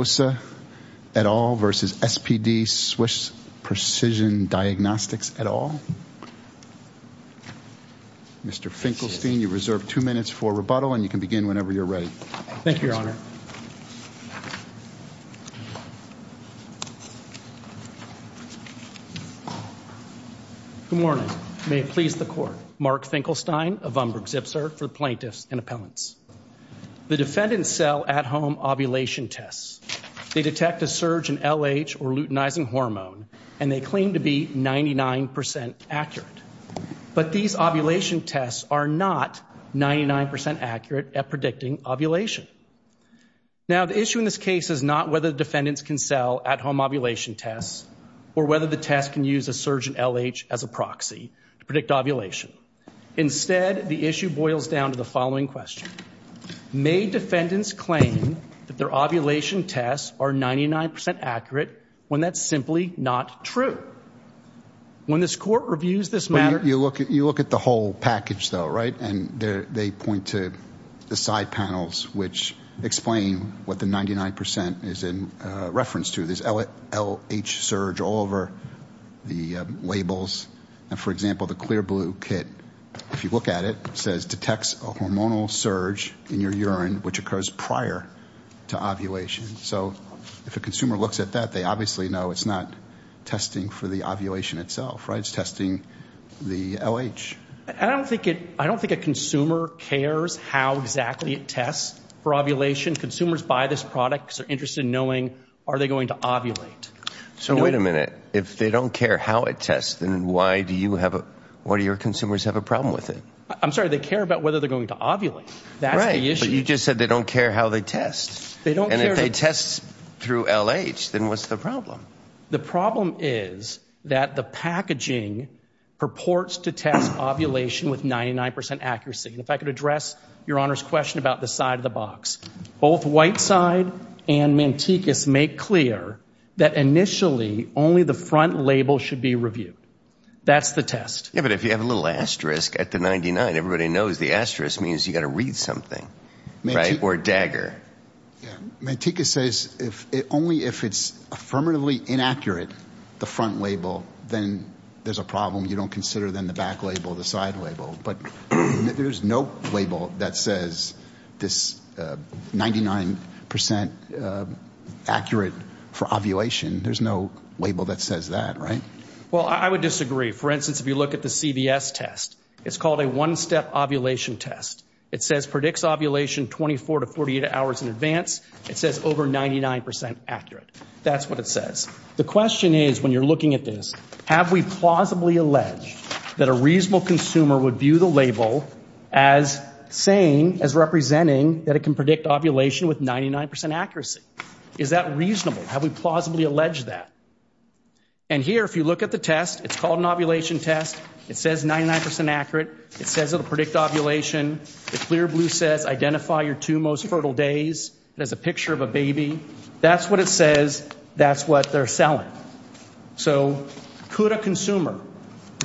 v. SPD Swiss Precision Diagnostics Mark Finkelstein, of Umbridge-Zipzer, for plaintiffs and appellants The defendants sell at-home ovulation tests. They detect a surge in LH, or luteinizing hormone, and they claim to be 99% accurate. But these ovulation tests are not 99% accurate at predicting ovulation. Now, the issue in this case is not whether the defendants can sell at-home ovulation tests, or whether the tests can use a surge in LH as a proxy to predict ovulation. Instead, the issue boils down to the following question. May defendants claim that their ovulation tests are 99% accurate, when that's simply not true? When this court reviews this matter... You look at the whole package, though, right? And they point to the side panels, which explain what the 99% is in reference to. There's LH surge all over the labels. And, for example, the clear blue kit, if you look at it, says, detects a hormonal surge in your urine, which occurs prior to ovulation. So, if a consumer looks at that, they obviously know it's not testing for the ovulation itself, right? It's testing the LH. I don't think a consumer cares how exactly it tests for ovulation. Consumers buy this product because they're interested in knowing, are they going to ovulate? So, wait a minute. If they don't care how it tests, then why do your consumers have a problem with it? I'm sorry, they care about whether they're going to ovulate. That's the issue. Right, but you just said they don't care how they test. They don't care... And if they test through LH, then what's the problem? The problem is that the packaging purports to test ovulation with 99% accuracy. And if I could address Your Honor's question about the side of the box. Both Whiteside and Mantecas make clear that, initially, only the front label should be reviewed. That's the test. Yeah, but if you have a little asterisk at the 99, everybody knows the asterisk means you've got to read something. Right, or dagger. Manteca says only if it's affirmatively inaccurate, the front label, then there's a problem. You don't consider, then, the back label, the side label. But there's no label that says this 99% accurate for ovulation. There's no label that says that, right? Well, I would disagree. For instance, if you look at the CVS test, it's called a one-step ovulation test. It says predicts ovulation 24 to 48 hours in advance. It says over 99% accurate. That's what it says. The question is, when you're looking at this, have we plausibly alleged that a reasonable consumer would view the label as saying, as representing that it can predict ovulation with 99% accuracy? Is that reasonable? Have we plausibly alleged that? And here, if you look at the test, it's called an ovulation test. It says 99% accurate. It says it'll predict ovulation. The clear blue says identify your two most fertile days. It has a picture of a baby. That's what it says. That's what they're selling. So could a consumer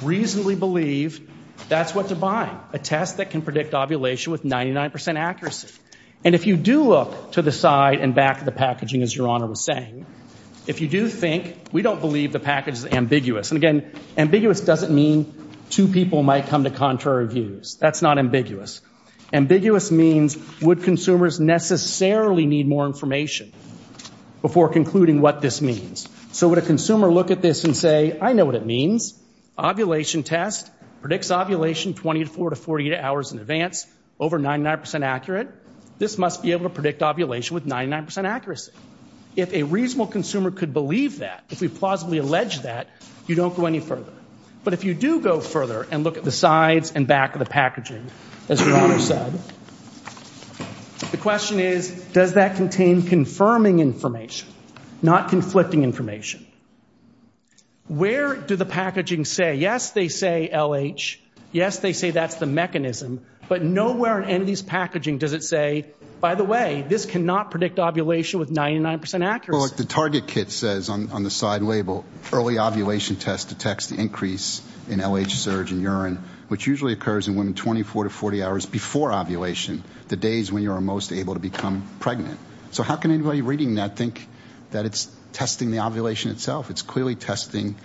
reasonably believe that's what to buy, a test that can predict ovulation with 99% accuracy? And if you do look to the side and back of the packaging, as Your Honor was saying, if you do think, we don't believe the package is ambiguous. And again, ambiguous doesn't mean two people might come to contrary views. That's not ambiguous. Ambiguous means, would consumers necessarily need more information before concluding what this means? So would a consumer look at this and say, I know what it means. Ovulation test predicts ovulation 24 to 48 hours in advance, over 99% accurate. This must be able to predict ovulation with 99% accuracy. If a reasonable consumer could believe that, if we plausibly allege that, you don't go any further. But if you do go further and look at the sides and back of the packaging, as Your Honor said, the question is, does that contain confirming information, not conflicting information? Where do the packaging say, yes, they say LH, yes, they say that's the mechanism, but nowhere in any of these packaging does it say, by the way, this cannot predict ovulation with 99% accuracy. Well, the target kit says on the side label, early ovulation test detects the increase in LH surge in urine, which usually occurs in women 24 to 40 hours before ovulation, the days when you are most able to become pregnant. So how can anybody reading that think that it's testing the ovulation itself? It's clearly testing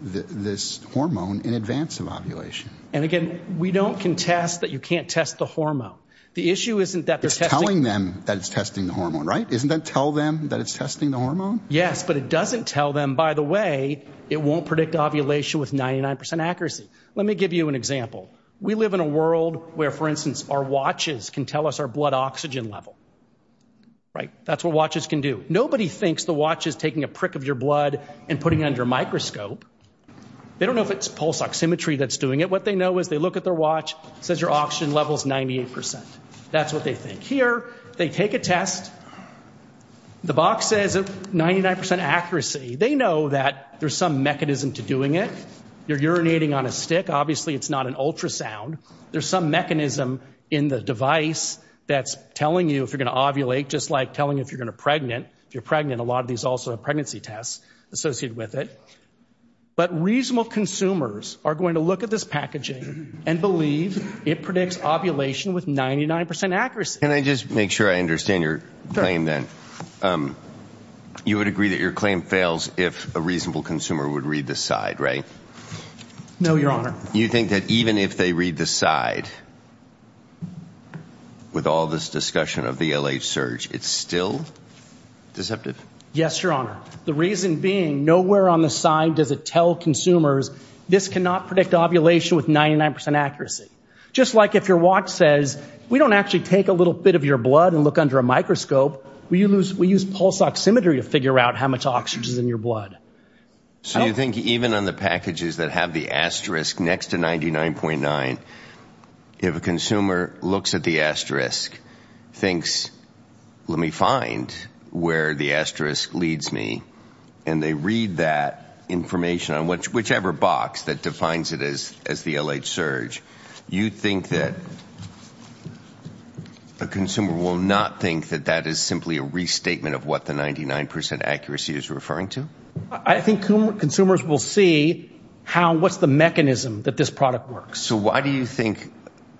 this hormone in advance of ovulation. And again, we don't contest that you can't test the hormone. It's telling them that it's testing the hormone, right? Isn't that tell them that it's testing the hormone? Yes, but it doesn't tell them, by the way, it won't predict ovulation with 99% accuracy. Let me give you an example. We live in a world where, for instance, our watches can tell us our blood oxygen level. That's what watches can do. Nobody thinks the watch is taking a prick of your blood and putting it under a microscope. They don't know if it's pulse oximetry that's doing it. What they know is they look at their watch, it says your oxygen level is 98%. That's what they think. Here, they take a test. The box says 99% accuracy. They know that there's some mechanism to doing it. You're urinating on a stick. Obviously, it's not an ultrasound. There's some mechanism in the device that's telling you if you're going to ovulate, just like telling you if you're going to be pregnant. If you're pregnant, a lot of these also have pregnancy tests associated with it. But reasonable consumers are going to look at this packaging and believe it predicts ovulation with 99% accuracy. Can I just make sure I understand your claim then? You would agree that your claim fails if a reasonable consumer would read the side, right? No, Your Honor. You think that even if they read the side, with all this discussion of the LH surge, it's still deceptive? Yes, Your Honor. The reason being, nowhere on the side does it tell consumers this cannot predict ovulation with 99% accuracy. Just like if your watch says, we don't actually take a little bit of your blood and look under a microscope. We use pulse oximetry to figure out how much oxygen is in your blood. So you think even on the packages that have the asterisk next to 99.9, if a consumer looks at the asterisk, thinks, let me find where the asterisk leads me, and they read that information on whichever box that defines it as the LH surge, you think that a consumer will not think that that is simply a restatement of what the 99% accuracy is referring to? I think consumers will see what's the mechanism that this product works. So why do you think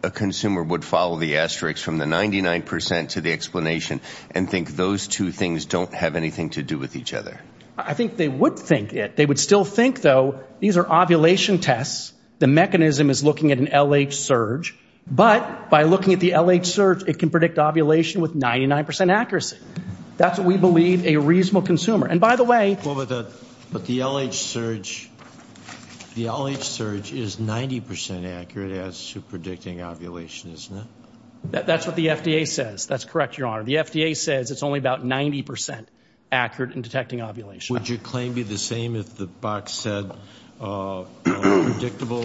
a consumer would follow the asterisk from the 99% to the explanation and think those two things don't have anything to do with each other? I think they would think it. They would still think, though, these are ovulation tests. The mechanism is looking at an LH surge. But by looking at the LH surge, it can predict ovulation with 99% accuracy. That's what we believe a reasonable consumer. And by the way the LH surge is 90% accurate as to predicting ovulation, isn't it? That's what the FDA says. That's correct, Your Honor. The FDA says it's only about 90% accurate in detecting ovulation. Would your claim be the same if the box said predictable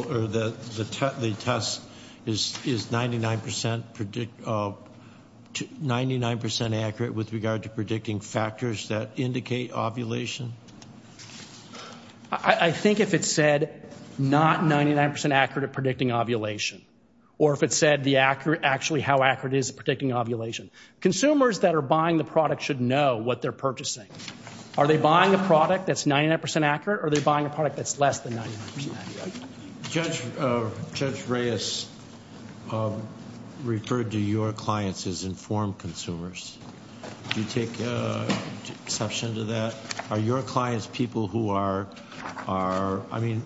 or the test is 99% accurate with regard to predicting factors that indicate ovulation? I think if it said not 99% accurate at predicting ovulation or if it said actually how accurate it is at predicting ovulation. Consumers that are buying the product should know what they're purchasing. Are they buying a product that's 99% accurate or are they buying a product that's less than 99% accurate? Judge Reyes referred to your clients as informed consumers. Do you take exception to that? Are your clients people who are, I mean,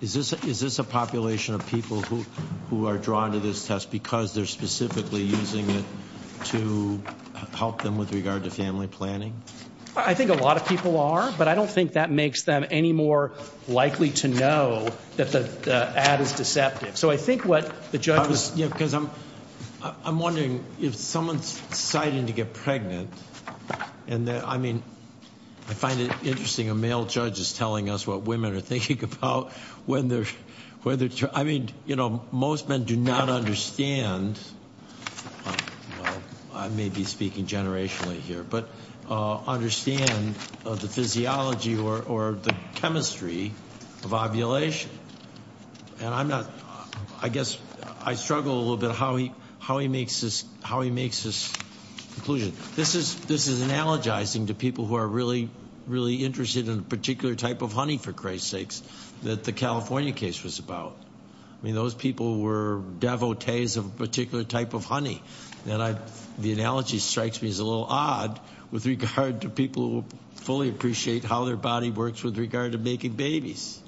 is this a population of people who are drawn to this test because they're specifically using it to help them with regard to family planning? I think a lot of people are, but I don't think that makes them any more likely to know that the ad is deceptive. So I think what the judge was… I'm wondering if someone's deciding to get pregnant and I mean I find it interesting a male judge is telling us what women are thinking about when they're… I mean, you know, most men do not understand, I may be speaking generationally here, but understand the physiology or the chemistry of ovulation. And I'm not… I guess I struggle a little bit how he makes this conclusion. This is analogizing to people who are really, really interested in a particular type of honey, for Christ's sakes, that the California case was about. I mean, those people were devotees of a particular type of honey. And the analogy strikes me as a little odd with regard to people who fully appreciate how their body works with regard to making babies.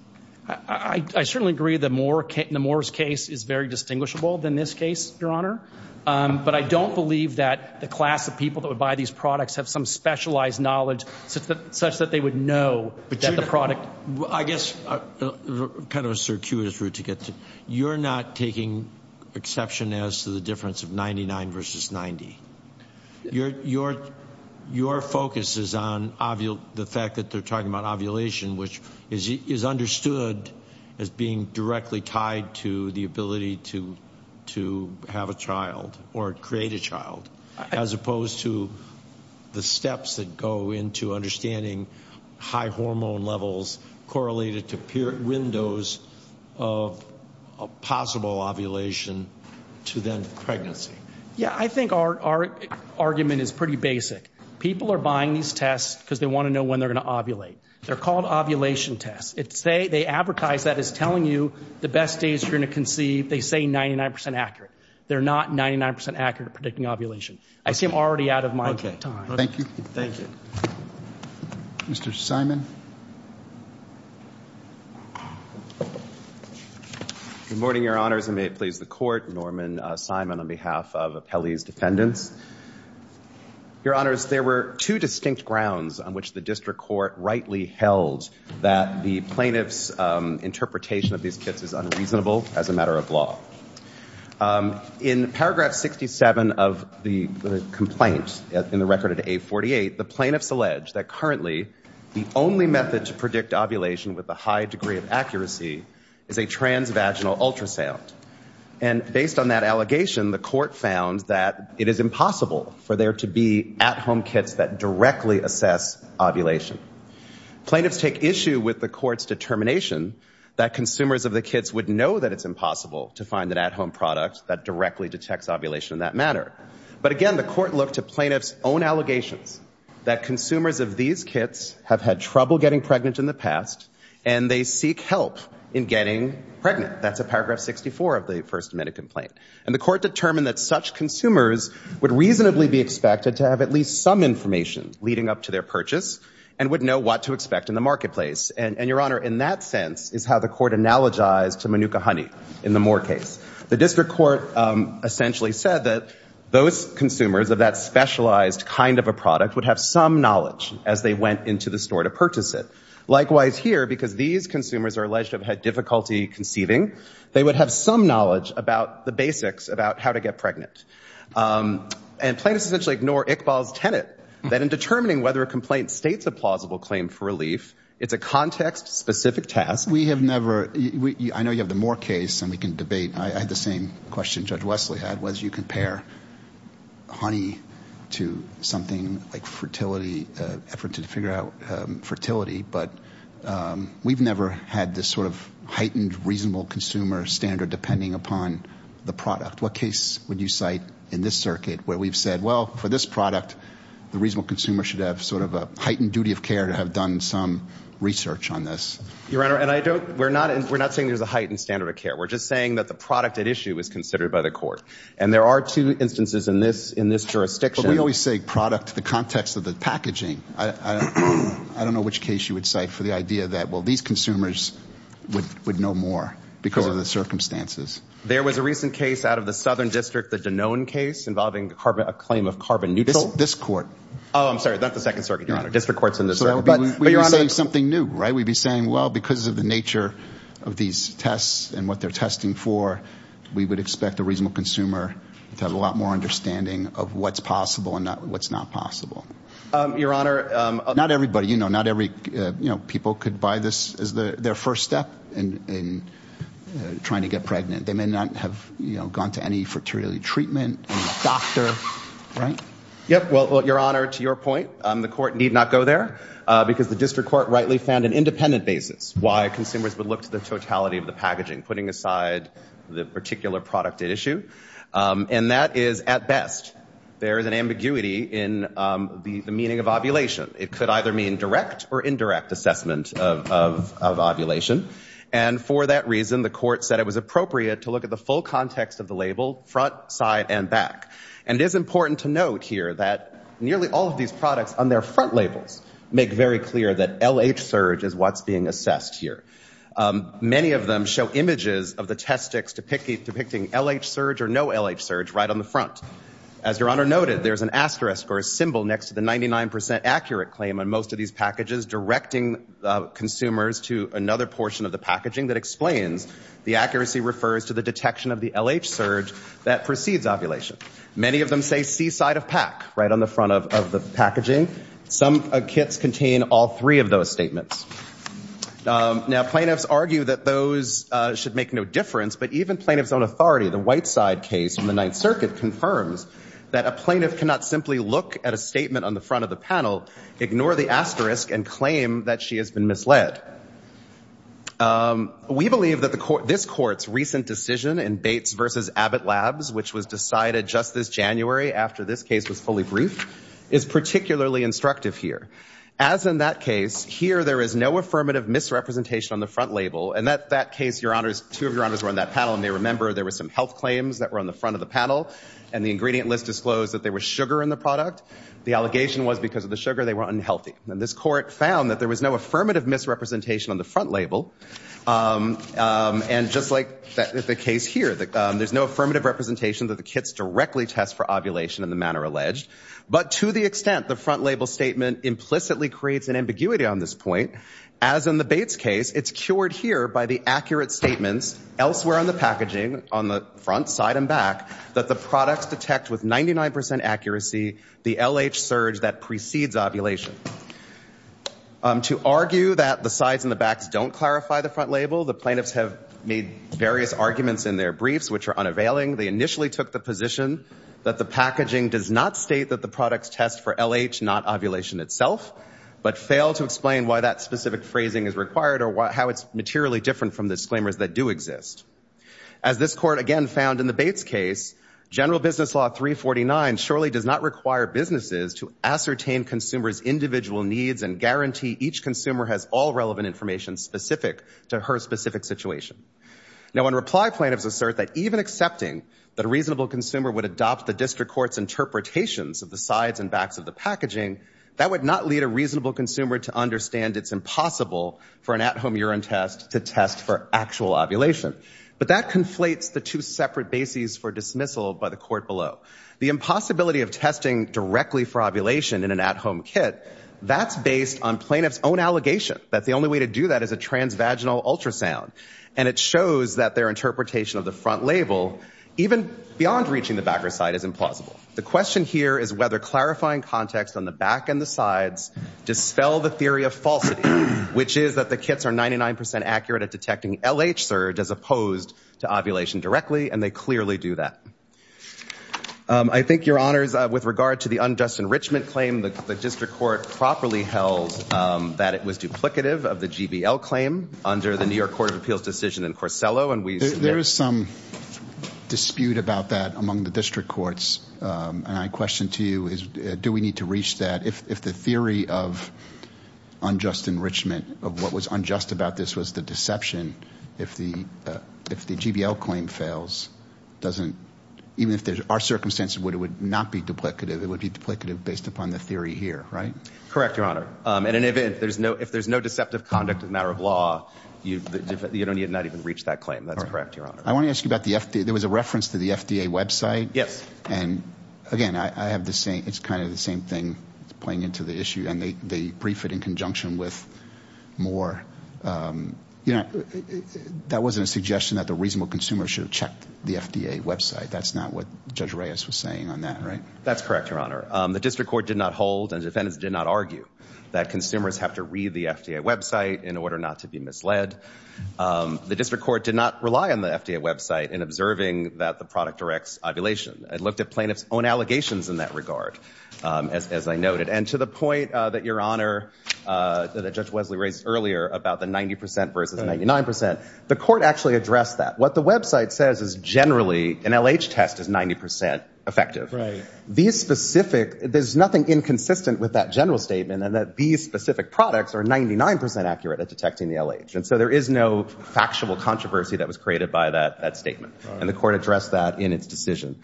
I certainly agree that Moore's case is very distinguishable than this case, Your Honor, but I don't believe that the class of people that would buy these products have some specialized knowledge such that they would know that the product… I guess kind of a circuitous route to get to. You're not taking exception as to the difference of 99 versus 90. Your focus is on the fact that they're talking about ovulation, which is understood as being directly tied to the ability to have a child or create a child as opposed to the steps that go into understanding high hormone levels correlated to windows of possible ovulation to then pregnancy. Yeah, I think our argument is pretty basic. People are buying these tests because they want to know when they're going to ovulate. They're called ovulation tests. They advertise that as telling you the best days you're going to conceive. They say 99% accurate. They're not 99% accurate at predicting ovulation. I seem already out of my time. Thank you. Thank you. Mr. Simon. Good morning, Your Honors, and may it please the Court. Norman Simon on behalf of Appellee's Defendants. Your Honors, there were two distinct grounds on which the district court rightly held that the plaintiff's interpretation of these kits is unreasonable as a matter of law. In Paragraph 67 of the complaint in the record at A48, the plaintiffs allege that currently the only method to predict ovulation with a high degree of accuracy is a transvaginal ultrasound. And based on that allegation, the court found that it is impossible for there to be at-home kits that directly assess ovulation. Plaintiffs take issue with the court's determination that consumers of the kits would know that it's impossible to find an at-home product that directly detects ovulation in that manner. But again, the court looked to plaintiffs' own allegations that consumers of these kits have had trouble getting pregnant in the past and they seek help in getting pregnant. That's at Paragraph 64 of the First Amendment complaint. And the court determined that such consumers would reasonably be expected to have at least some information leading up to their purchase and would know what to expect in the marketplace. And, Your Honor, in that sense is how the court analogized to Manuka honey in the Moore case. The district court essentially said that those consumers of that specialized kind of a product would have some knowledge as they went into the store to purchase it. Likewise here, because these consumers are alleged to have had difficulty conceiving, they would have some knowledge about the basics about how to get pregnant. And plaintiffs essentially ignore Iqbal's tenet that in determining whether a complaint states a plausible claim for relief, it's a context-specific task. I know you have the Moore case, and we can debate. I had the same question Judge Wesley had, was you compare honey to something like fertility, an effort to figure out fertility. But we've never had this sort of heightened reasonable consumer standard depending upon the product. What case would you cite in this circuit where we've said, well, for this product, the reasonable consumer should have sort of a heightened duty of care to have done some research on this? Your Honor, we're not saying there's a heightened standard of care. We're just saying that the product at issue is considered by the court. And there are two instances in this jurisdiction. But we always say product in the context of the packaging. I don't know which case you would cite for the idea that, well, these consumers would know more because of the circumstances. There was a recent case out of the southern district, the Danone case, involving a claim of carbon neutral. This court. Oh, I'm sorry. That's the second circuit, Your Honor. District court's in this. We'd be saying something new, right? We'd be saying, well, because of the nature of these tests and what they're testing for, we would expect a reasonable consumer to have a lot more understanding of what's possible and what's not possible. Your Honor. Not everybody. You know, not every people could buy this as their first step in trying to get pregnant. They may not have, you know, gone to any fertility treatment, a doctor. Right? Yep. Well, Your Honor, to your point, the court need not go there. Because the district court rightly found an independent basis why consumers would look to the totality of the packaging, putting aside the particular product at issue. And that is, at best, there is an ambiguity in the meaning of ovulation. It could either mean direct or indirect assessment of ovulation. And for that reason, the court said it was appropriate to look at the full context of the label, front, side, and back. And it is important to note here that nearly all of these products on their front labels make very clear that LH Surge is what's being assessed here. Many of them show images of the test sticks depicting LH Surge or no LH Surge right on the front. As Your Honor noted, there's an asterisk or a symbol next to the 99% accurate claim on most of these packages directing consumers to another portion of the packaging that explains the accuracy refers to the detection of the LH Surge that precedes ovulation. Many of them say seaside of pack right on the front of the packaging. Some kits contain all three of those statements. Now, plaintiffs argue that those should make no difference. But even plaintiff's own authority, the Whiteside case in the Ninth Circuit, confirms that a plaintiff cannot simply look at a statement on the front of the label, ignore the asterisk, and claim that she has been misled. We believe that this Court's recent decision in Bates v. Abbott Labs, which was decided just this January after this case was fully briefed, is particularly instructive here. As in that case, here there is no affirmative misrepresentation on the front label. And at that case, Your Honors, two of Your Honors were on that panel, and they remember there were some health claims that were on the front of the panel, and the ingredient list disclosed that there was sugar in the product. The allegation was because of the sugar, they were unhealthy. And this Court found that there was no affirmative misrepresentation on the front label, and just like the case here, there's no affirmative representation that the kits directly test for ovulation in the manner alleged. But to the extent the front label statement implicitly creates an ambiguity on this point, as in the Bates case, it's cured here by the accurate statements elsewhere on the packaging, on the front, side, and back, that the products detect with 99% accuracy the LH surge that precedes ovulation. To argue that the sides and the backs don't clarify the front label, the plaintiffs have made various arguments in their briefs which are unavailing. They initially took the position that the packaging does not state that the products test for LH, not ovulation itself, but fail to explain why that specific phrasing is required or how it's materially different from disclaimers that do exist. As this Court again found in the Bates case, General Business Law 349 surely does not require businesses to ascertain consumers' individual needs and guarantee each consumer has all relevant information specific to her specific situation. Now when reply plaintiffs assert that even accepting that a reasonable consumer would adopt the District Court's interpretations of the sides and backs of the packaging, that would not lead a reasonable consumer to understand it's impossible for an at-home urine test to test for actual ovulation. But that conflates the two separate bases for dismissal by the Court below. The impossibility of testing directly for ovulation in an at-home kit, that's based on plaintiff's own allegation that the only way to do that is a transvaginal ultrasound. And it shows that their interpretation of the front label, even beyond reaching the back or side, is implausible. The question here is whether clarifying context on the back and the sides dispel the theory of falsity, which is that the kits are 99% accurate at detecting LH surge as opposed to ovulation directly. And they clearly do that. I think, Your Honors, with regard to the unjust enrichment claim, the District Court properly held that it was duplicative of the GBL claim under the New York Court of Appeals decision in Corsello. There is some dispute about that among the District Courts. And my question to you is do we need to reach that if the theory of unjust about this was the deception, if the GBL claim fails, even if there are circumstances where it would not be duplicative, it would be duplicative based upon the theory here, right? Correct, Your Honor. In any event, if there's no deceptive conduct as a matter of law, you do not need to reach that claim. That's correct, Your Honor. I want to ask you about the FDA. There was a reference to the FDA website. Yes. And, again, it's kind of the same thing playing into the issue. And they brief it in conjunction with more, you know, that wasn't a suggestion that the reasonable consumer should have checked the FDA website. That's not what Judge Reyes was saying on that, right? That's correct, Your Honor. The District Court did not hold and defendants did not argue that consumers have to read the FDA website in order not to be misled. The District Court did not rely on the FDA website in observing that the product directs ovulation. It looked at plaintiffs' own allegations in that regard, as I noted. And to the point that Your Honor, that Judge Wesley raised earlier about the 90% versus 99%, the court actually addressed that. What the website says is generally an LH test is 90% effective. These specific, there's nothing inconsistent with that general statement in that these specific products are 99% accurate at detecting the LH. And so there is no factual controversy that was created by that statement. Right. And the court addressed that in its decision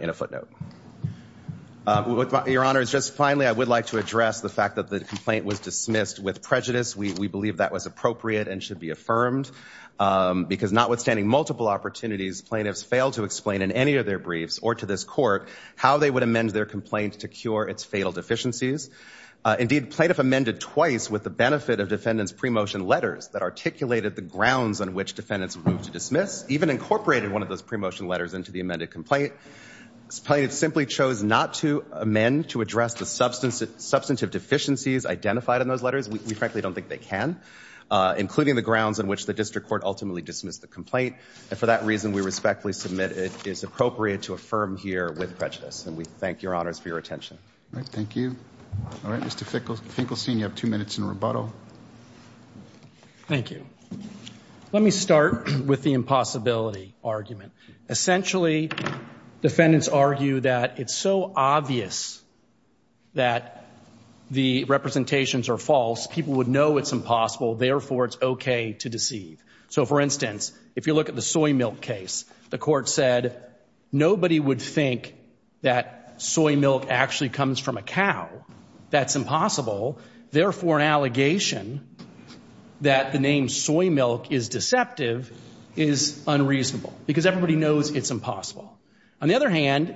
in a footnote. Your Honor, just finally, I would like to address the fact that the complaint was dismissed with prejudice. We believe that was appropriate and should be affirmed because notwithstanding multiple opportunities, plaintiffs failed to explain in any of their briefs or to this court how they would amend their complaint to cure its fatal deficiencies. Indeed, plaintiff amended twice with the benefit of defendants' pre-motion letters that articulated the grounds on which defendants moved to dismiss, even incorporated one of those pre-motion letters into the amended complaint. Plaintiff simply chose not to amend to address the substantive deficiencies identified in those letters. We frankly don't think they can, including the grounds on which the district court ultimately dismissed the complaint. And for that reason, we respectfully submit it is appropriate to affirm here with prejudice. And we thank your Honors for your attention. All right. Thank you. All right, Mr. Finkelstein, you have two minutes in rebuttal. Thank you. Let me start with the impossibility argument. Essentially, defendants argue that it's so obvious that the representations are false, people would know it's impossible. Therefore, it's okay to deceive. So for instance, if you look at the soy milk case, the court said nobody would think that soy milk actually comes from a cow. That's impossible. Therefore, an allegation that the name soy milk is deceptive is unreasonable because everybody knows it's impossible. On the other hand,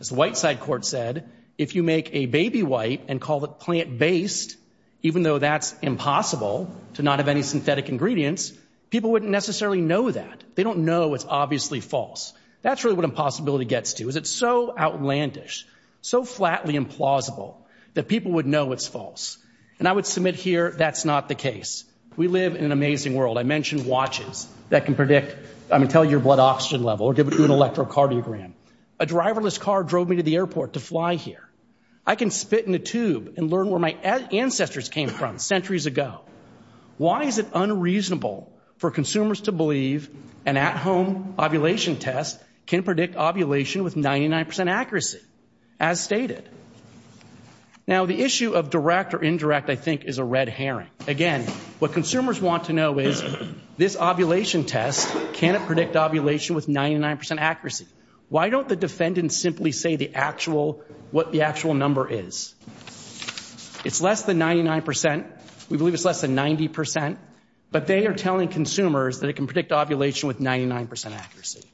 as the white side court said, if you make a baby wipe and call it plant-based, even though that's impossible to not have any synthetic ingredients, people wouldn't necessarily know that. They don't know it's obviously false. That's really what impossibility gets to, is it's so outlandish, so flatly implausible that people would know it's false. And I would submit here that's not the case. We live in an amazing world. I mentioned watches that can predict, I mean, tell your blood oxygen level or give you an electrocardiogram. A driverless car drove me to the airport to fly here. I can spit in a tube and learn where my ancestors came from centuries ago. Why is it unreasonable for consumers to believe an at-home ovulation test can predict ovulation with 99% accuracy, as stated? Now, the issue of direct or indirect, I think, is a red herring. Again, what consumers want to know is this ovulation test, can it predict ovulation with 99% accuracy? Why don't the defendants simply say what the actual number is? It's less than 99%. We believe it's less than 90%. But they are telling consumers that it can predict ovulation with 99% accuracy.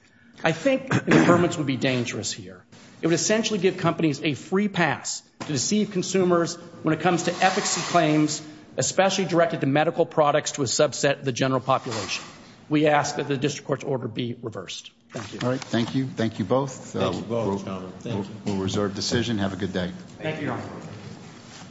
I think the permits would be dangerous here. It would essentially give companies a free pass to deceive consumers when it comes to efficacy claims, especially directed to medical products to a subset of the general population. We ask that the district court's order be reversed. Thank you. All right. Thank you. Thank you both. We'll reserve decision. Have a good day. Thank you, Your Honor.